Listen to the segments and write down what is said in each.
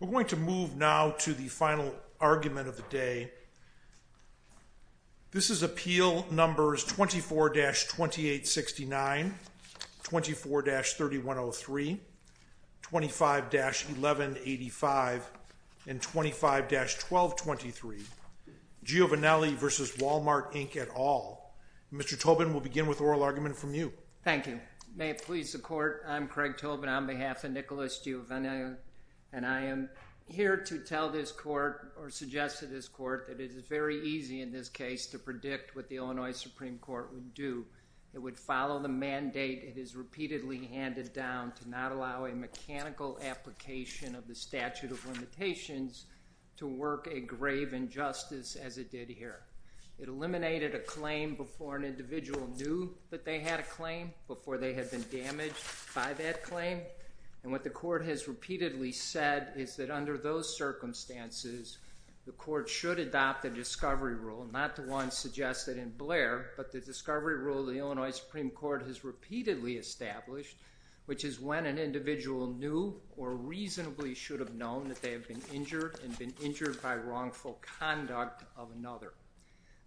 We're going to move now to the final argument of the day. This is Appeal Numbers 24-2869, 24-3103, 25-1185, and 25-1223, Giovannelli v. Walmart Inc. Mr. Tobin, we'll begin with the oral argument from you. Thank you. May it please the Court, I'm Craig Tobin on behalf of Nicholas Giovannelli, and I am here to tell this Court, or suggest to this Court, that it is very easy in this case to predict what the Illinois Supreme Court would do. It would follow the mandate it has repeatedly handed down to not allow a mechanical application of the statute of limitations to work a grave injustice as it did here. It eliminated a claim before an individual knew that they had a claim, before they had been damaged by that claim, and what the Court has repeatedly said is that under those circumstances, the Court should adopt a discovery rule, not the one suggested in Blair, but the discovery rule the Illinois Supreme Court has repeatedly established, which is when an individual knew or reasonably should have known that they have been injured and been injured by wrongful conduct of another.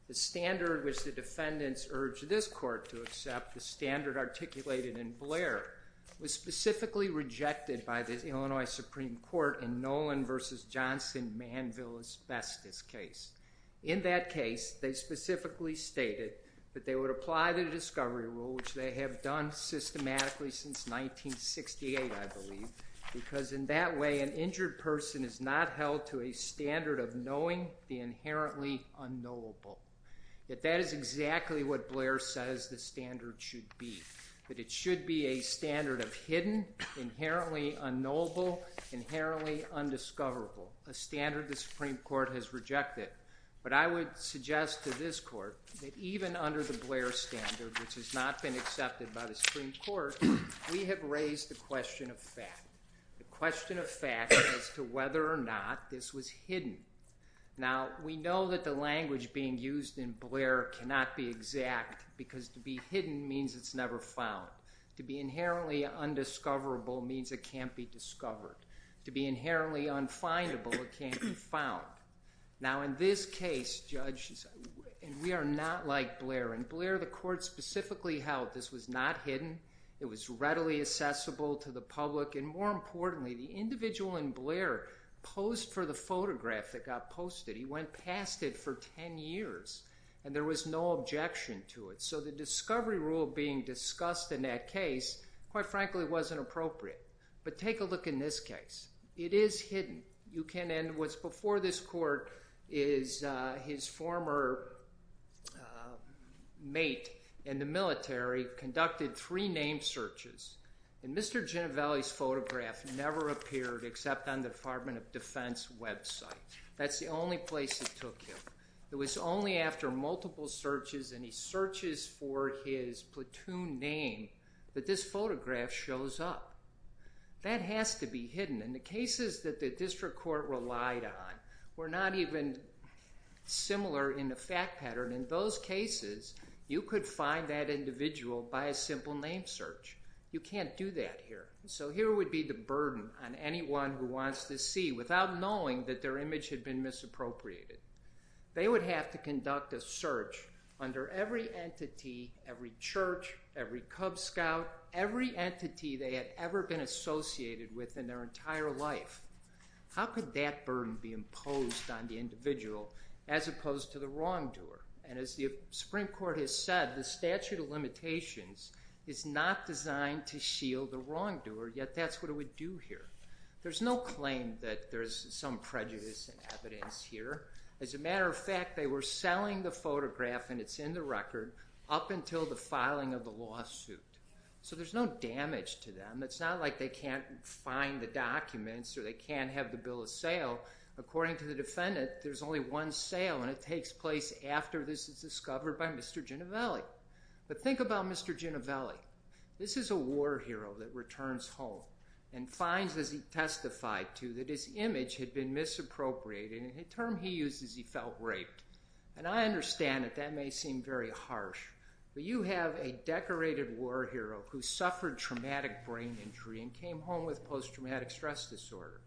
The standard which the defendants urged this Court to accept, the standard articulated in Blair, was specifically rejected by the Illinois Supreme Court in Nolan v. Johnson, Manville Asbestos case. In that case, they specifically stated that they would apply the discovery rule, which they have done systematically since 1968, I believe, because in that way, an injured person is not held to a standard of knowing the inherently unknowable, that that is exactly what Blair says the standard should be, that it should be a standard of hidden, inherently unknowable, inherently undiscoverable, a standard the Supreme Court has rejected. But I would suggest to this Court that even under the Blair standard, which has not been accepted by the Supreme Court, we have raised the question of fact. The question of fact as to whether or not this was hidden. Now, we know that the language being used in Blair cannot be exact, because to be hidden means it's never found. To be inherently undiscoverable means it can't be discovered. To be inherently unfindable, it can't be found. Now in this case, Judge, and we are not like Blair, and Blair, the Court specifically held that this was not hidden, it was readily accessible to the public, and more importantly, the individual in Blair posed for the photograph that got posted. He went past it for 10 years, and there was no objection to it. So the discovery rule being discussed in that case, quite frankly, wasn't appropriate. But take a look in this case. It is hidden. You can, and what's before this Court is his former mate in the military conducted three name searches, and Mr. Ginevalli's photograph never appeared except on the Department of Defense website. That's the only place it took him. It was only after multiple searches, and he searches for his platoon name, that this photograph shows up. That has to be hidden. And the cases that the District Court relied on were not even similar in the fact pattern. In those cases, you could find that individual by a simple name search. You can't do that here. So here would be the burden on anyone who wants to see, without knowing that their image had been misappropriated. They would have to conduct a search under every entity, every church, every Cub Scout, every entity they had ever been associated with in their entire life. How could that burden be imposed on the individual as opposed to the wrongdoer? And as the Supreme Court has said, the statute of limitations is not designed to shield the wrongdoer, yet that's what it would do here. There's no claim that there's some prejudice in evidence here. As a matter of fact, they were selling the photograph, and it's in the record, up until the filing of the lawsuit. So there's no damage to them. It's not like they can't find the documents or they can't have the bill of sale. According to the defendant, there's only one sale, and it takes place after this is discovered by Mr. Ginovelli. But think about Mr. Ginovelli. This is a war hero that returns home and finds, as he testified to, that his image had been misappropriated. And the term he used is he felt raped. And I understand that that may seem very harsh. But you have a decorated war hero who suffered traumatic brain injury and came home with post-traumatic stress disorder,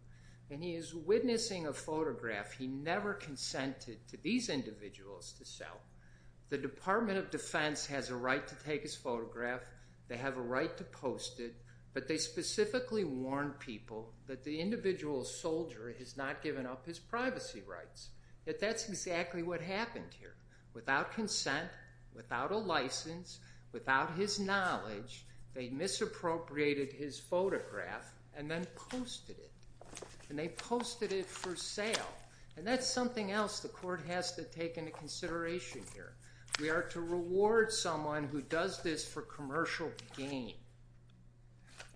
and he is witnessing a photograph he never consented to these individuals to sell. The Department of Defense has a right to take his photograph. They have a right to post it. But they specifically warn people that the individual soldier has not given up his privacy rights, that that's exactly what happened here. Without consent, without a license, without his knowledge, they misappropriated his photograph and then posted it. And they posted it for sale. And that's something else the court has to take into consideration here. We are to reward someone who does this for commercial gain.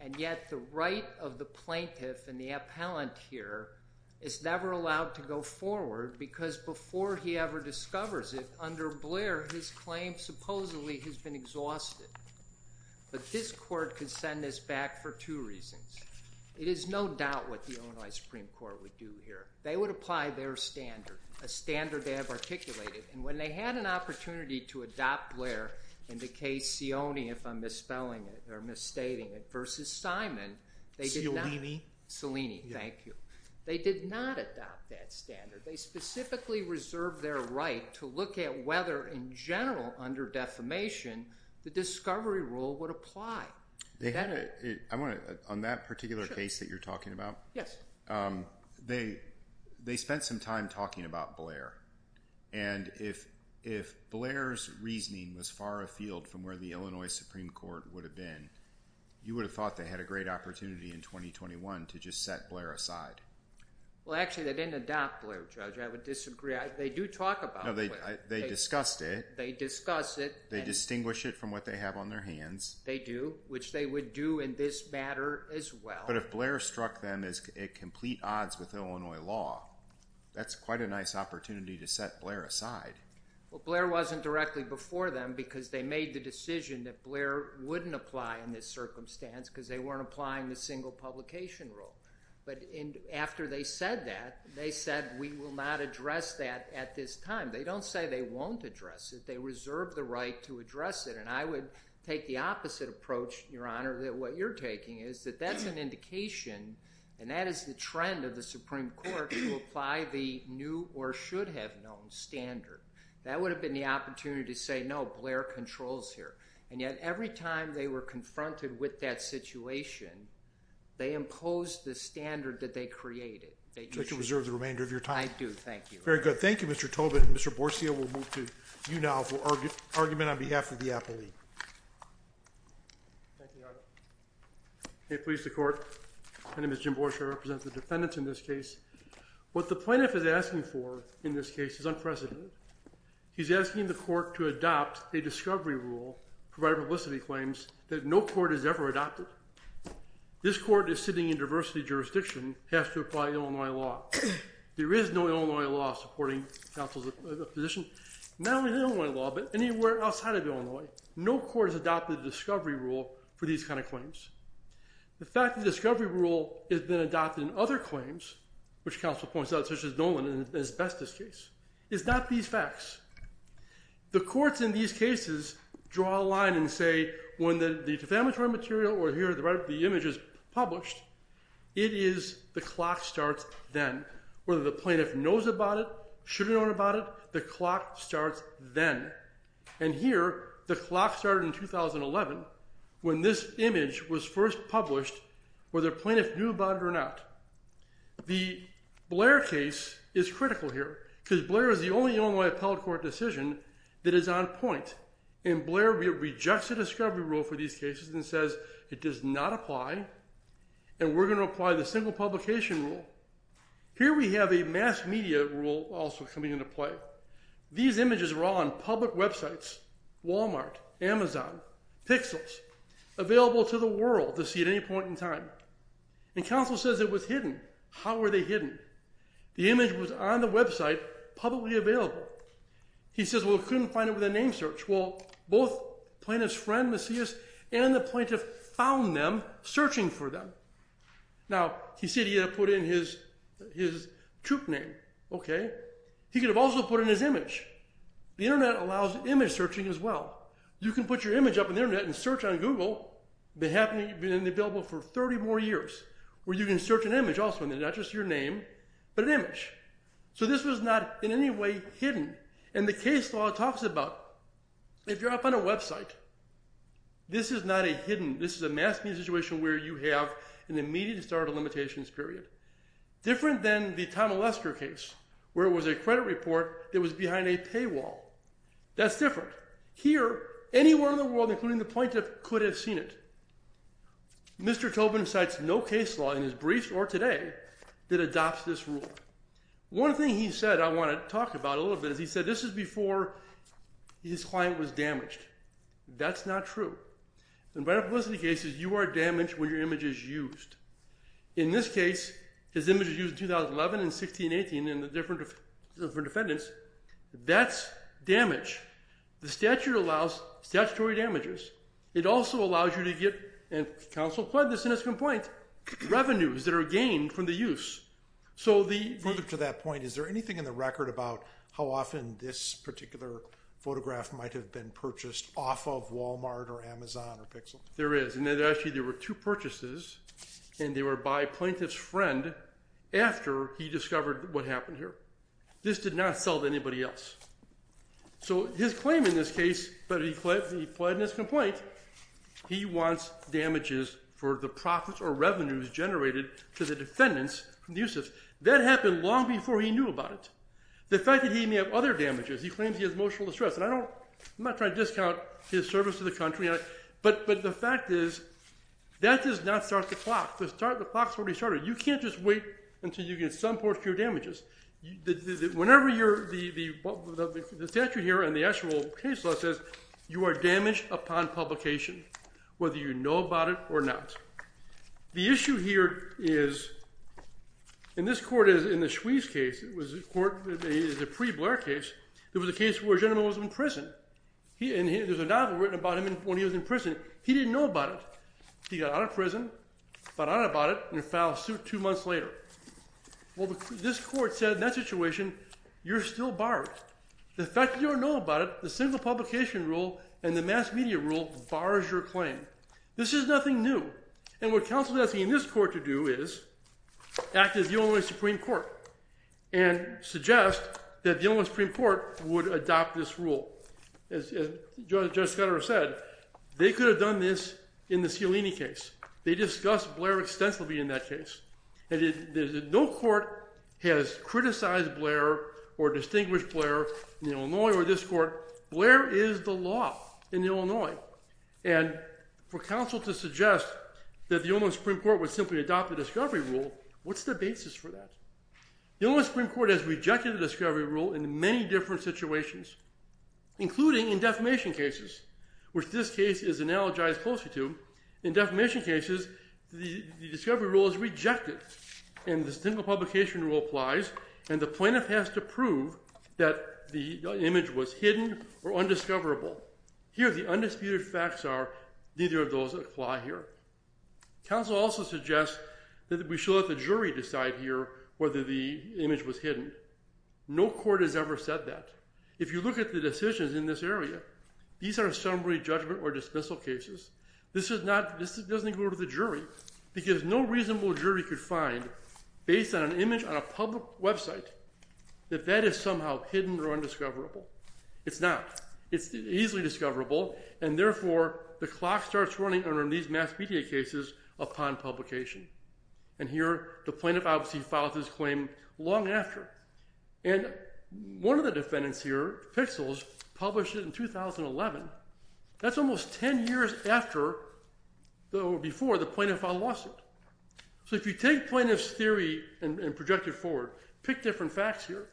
And yet the right of the plaintiff and the appellant here is never allowed to go forward because before he ever discovers it, under Blair, his claim supposedly has been exhausted. But this court could send this back for two reasons. It is no doubt what the Illinois Supreme Court would do here. They would apply their standard, a standard they have articulated. And when they had an opportunity to adopt Blair in the case Sioni, if I'm misspelling it or misstating it, versus Simon, they did not. Sionini. Sionini. Thank you. They did not adopt that standard. They specifically reserved their right to look at whether, in general, under defamation, the discovery rule would apply. They had a, I want to, on that particular case that you're talking about, they spent some time talking about Blair. And if, if Blair's reasoning was far afield from where the Illinois Supreme Court would have been, you would have thought they had a great opportunity in 2021 to just set Blair aside. Well, actually, they didn't adopt Blair, Judge. I would disagree. They do talk about Blair. No, they, they discussed it. They discuss it. They distinguish it from what they have on their hands. They do, which they would do in this matter as well. But if Blair struck them as at complete odds with Illinois law, that's quite a nice opportunity to set Blair aside. Well, Blair wasn't directly before them because they made the decision that Blair wouldn't apply in this circumstance because they weren't applying the single publication rule. But in, after they said that, they said, we will not address that at this time. They don't say they won't address it. They reserve the right to address it. And I would take the opposite approach, Your Honor, that what you're taking is that that's an indication, and that is the trend of the Supreme Court, to apply the new or should have known standard. That would have been the opportunity to say, no, Blair controls here. And yet every time they were confronted with that situation, they imposed the standard that they created. So you can reserve the remainder of your time. I do. Thank you. Very good. Thank you, Mr. Tobin. Mr. Borchia, we'll move to you now for argument on behalf of the appellee. Thank you, Your Honor. May it please the Court. My name is Jim Borchia. I represent the defendants in this case. What the plaintiff is asking for in this case is unprecedented. He's asking the court to adopt a discovery rule, provide publicity claims, that no court has ever adopted. This court is sitting in diversity jurisdiction, has to apply Illinois law. There is no Illinois law supporting counsel's position. Not only Illinois law, but anywhere outside of Illinois. No court has adopted a discovery rule for these kind of claims. The fact the discovery rule has been adopted in other claims, which counsel points out, such as Nolan in the asbestos case, is not these facts. The courts in these cases draw a line and say when the defamatory material or here, the right of the image is published, it is the clock starts then. Whether the plaintiff knows about it, should have known about it, the clock starts then. And here, the clock started in 2011 when this image was first published, whether plaintiff knew about it or not. The Blair case is critical here because Blair is the only Illinois appellate court decision that is on point. And Blair rejects the discovery rule for these cases and says it does not apply and we're going to apply the single publication rule. Here we have a mass media rule also coming into play. These images are all on public websites, Walmart, Amazon, Pixels, available to the world to see at any point in time. And counsel says it was hidden. How were they hidden? The image was on the website, publicly available. He says, well, he couldn't find it with a name search. Well, both plaintiff's friend, Macias, and the plaintiff found them searching for them. Now, he said he had to put in his troop name. Okay. He could have also put in his image. The internet allows image searching as well. You can put your image up on the internet and search on Google, been available for 30 more years where you can search an image also and not just your name, but an image. So this was not in any way hidden. And the case law talks about if you're up on a website, this is not a hidden, this is a mass media situation where you have an immediate start of limitations period. Different than the Tom Olesker case where it was a credit report that was behind a paywall. That's different. Here, anyone in the world, including the plaintiff, could have seen it. Mr. Tobin cites no case law in his briefs or today that adopts this rule. One thing he said I want to talk about a little bit is he said this is before his client was damaged. That's not true. In vital publicity cases, you are damaged when your image is used. In this case, his image was used in 2011 and 1618 in the different defendants. That's damage. The statute allows statutory damages. It also allows you to get, and counsel pled this in his complaint, revenues that are gained from the use. Further to that point, is there anything in the record about how often this particular photograph might have been purchased off of Walmart or Amazon or Pixel? There is. And actually there were two purchases and they were by plaintiff's friend after he discovered what happened here. This did not sell to anybody else. So his claim in this case, but he pled in his complaint, he wants damages for the profits or revenues generated to the defendants from the uses. That happened long before he knew about it. The fact that he may have other damages, he claims he has emotional distress. And I'm not trying to discount his service to the country, but the fact is that does not start the clock. The clock's already started. You can't just wait until you get some portion of your damages. Whenever you're, the statute here and the actual case law says you are damaged upon publication, whether you know about it or not. The issue here is, and this court is in the Schwiez case, it was a court, it was a pre-Blair case. It was a case where a gentleman was in prison. There's a novel written about him when he was in prison. He didn't know about it. He got out of prison, found out about it, and filed a suit two months later. Well, this court said in that situation, you're still barred. The fact that you don't know about it, the single publication rule and the mass media rule bars your claim. This is nothing new. And what counsel is asking this court to do is act as the only Supreme Court and suggest that the only Supreme Court would adopt this rule. As Judge Scudero said, they could have done this in the Cialini case. They discussed Blair extensively in that case. And no court has criticized Blair or distinguished Blair in Illinois or this court. Blair is the law in Illinois. And for counsel to suggest that the only Supreme Court would simply adopt the discovery rule, what's the basis for that? The only Supreme Court has rejected the discovery rule in many different situations, including in defamation cases, which this case is analogized closely to. In defamation cases, the discovery rule is rejected. And the single publication rule applies. And the plaintiff has to prove that the image was hidden or undiscoverable. Here, the undisputed facts are neither of those apply here. Counsel also suggests that we should let the jury decide here whether the image was hidden. No court has ever said that. If you look at the decisions in this area, these are summary judgment or dismissal cases. This doesn't go to the jury because no reasonable jury could find, based on an image on a public website, that that is somehow hidden or undiscoverable. It's not. It's easily discoverable. And therefore, the clock starts running under these mass media cases upon publication. And here, the plaintiff obviously filed his claim long after. And one of the defendants here, Pixels, published it in 2011. That's almost 10 years after or before the plaintiff filed a lawsuit. So if you take plaintiff's theory and project it forward, pick different facts here.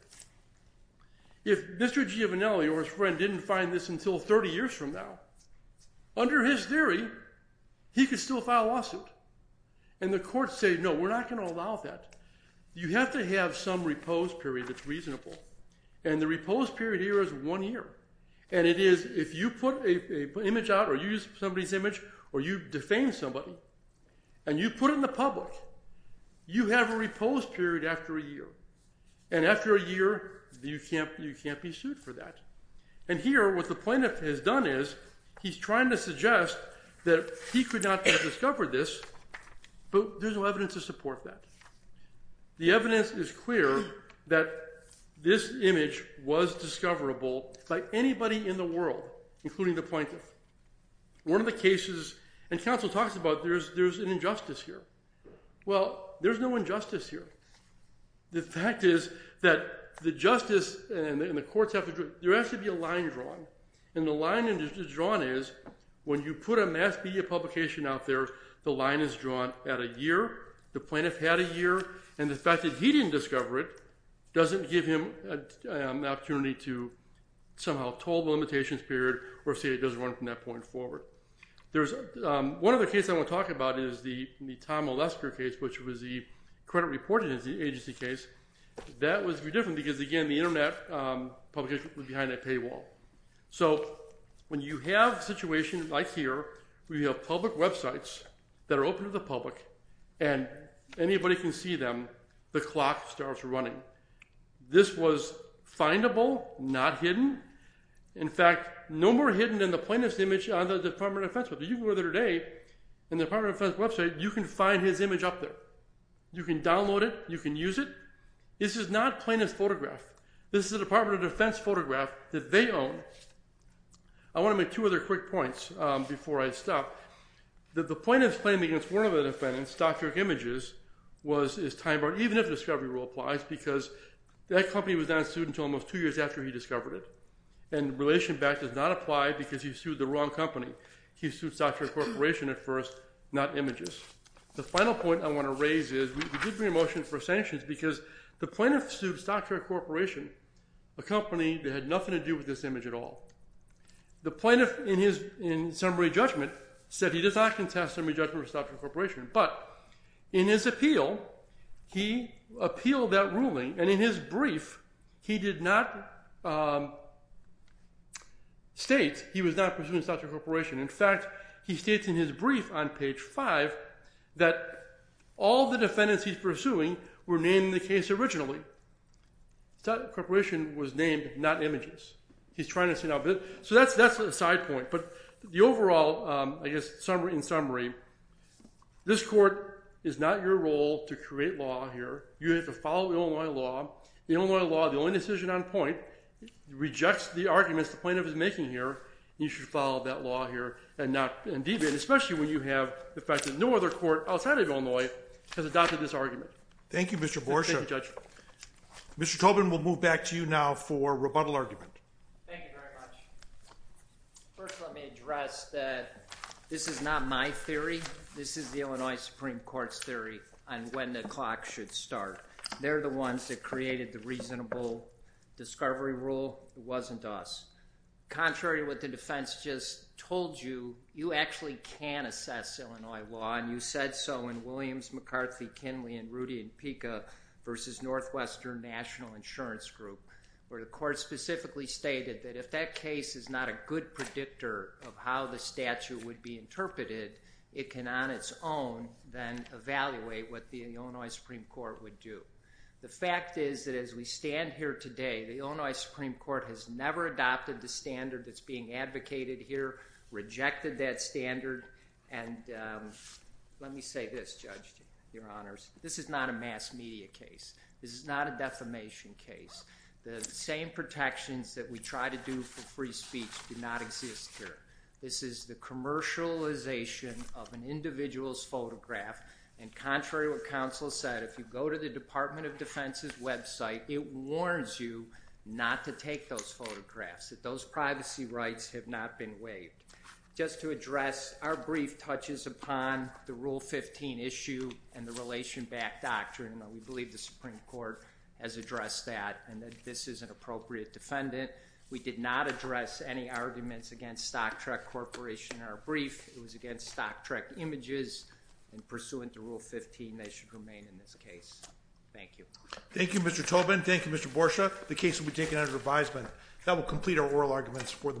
If Mr. Giovinelli or his friend didn't find this until 30 years from now, under his theory, he could still file a lawsuit. And the courts say, no, we're not going to allow that. You have to have some repose period that's reasonable. And the repose period here is one year. And it is if you put an image out or you use somebody's image or you defame somebody and you put it in the public, you have a repose period after a year. And after a year, you can't be sued for that. And here, what the plaintiff has done is, he's trying to suggest that he could not have discovered this, but there's no evidence to support that. The evidence is clear that this image was discoverable by anybody in the world, including the plaintiff. One of the cases... And counsel talks about there's an injustice here. Well, there's no injustice here. The fact is that the justice and the courts have to... There has to be a line drawn. And the line that is drawn is, when you put a mass media publication out there, the line is drawn at a year. The plaintiff had a year. And the fact that he didn't discover it doesn't give him an opportunity to somehow toll the limitations period or say it doesn't run from that point forward. There's... One of the cases I want to talk about is the Tom Olesker case, which was the credit reporting agency case. That was different because, again, the Internet publication was behind a paywall. So when you have a situation like here, where you have public websites that are open to the public and anybody can see them, the clock starts running. This was findable, not hidden. In fact, no more hidden than the plaintiff's image on the Department of Defense website. If you go there today, in the Department of Defense website, you can find his image up there. You can download it, you can use it. This is not a plaintiff's photograph. This is a Department of Defense photograph that they own. I want to make two other quick points before I stop. The plaintiff's claim against one of the defendant's doctrinic images was his time... Even if the discovery rule applies, because that company was not sued until almost two years after he discovered it. And relation back does not apply because he sued the wrong company. He sued StockTrack Corporation at first, not images. The final point I want to raise is we did bring a motion for sanctions because the plaintiff sued StockTrack Corporation, a company that had nothing to do with this image at all. The plaintiff, in his summary judgment, said he does not contest summary judgment with StockTrack Corporation, but in his appeal, he appealed that ruling, and in his brief, he did not... ...state he was not pursuing StockTrack Corporation. In fact, he states in his brief on page 5 that all the defendants he's pursuing were named in the case originally. StockTrack Corporation was named, not images. He's trying to say... So that's a side point. But the overall, I guess, in summary, this court is not your role to create law here. You have to follow Illinois law. The Illinois law, the only decision on point, rejects the arguments the plaintiff is making here. You should follow that law here and not... Especially when you have the fact that no other court outside of Illinois has adopted this argument. Thank you, Mr. Borsha. Mr. Tobin, we'll move back to you now for rebuttal argument. Thank you very much. First, let me address that this is not my theory. This is the Illinois Supreme Court's theory on when the clock should start. They're the ones that created the reasonable discovery rule. It wasn't us. Contrary to what the defense just told you, you actually can assess Illinois law, and you said so in Williams, McCarthy, Kinley, and Rudy and Pica versus Northwestern National Insurance Group, where the court specifically stated that if that case is not a good predictor of how the statute would be interpreted, it can, on its own, then evaluate what the Illinois Supreme Court would do. The fact is that as we stand here today, the Illinois Supreme Court has never adopted the standard that's being advocated here, rejected that standard, and, um... Let me say this, Judge, Your Honors. This is not a mass media case. This is not a defamation case. The same protections that we try to do for free speech do not exist here. This is the commercialization of an individual's photograph, and contrary to what counsel said, if you go to the Department of Defense's website, it warns you not to take those photographs, that those privacy rights have not been waived. Just to address, our brief touches upon the Rule 15 issue and the Relation Back Doctrine, and we believe the Supreme Court has addressed that, and that this is an appropriate defendant. We did not address any arguments against Stocktrek Corporation in our brief. It was against Stocktrek Images, and pursuant to Rule 15, they should remain in this case. Thank you. Thank you, Mr. Tobin. Thank you, Mr. Borsha. The case will be taken under advisement. That will complete our oral arguments for the morning.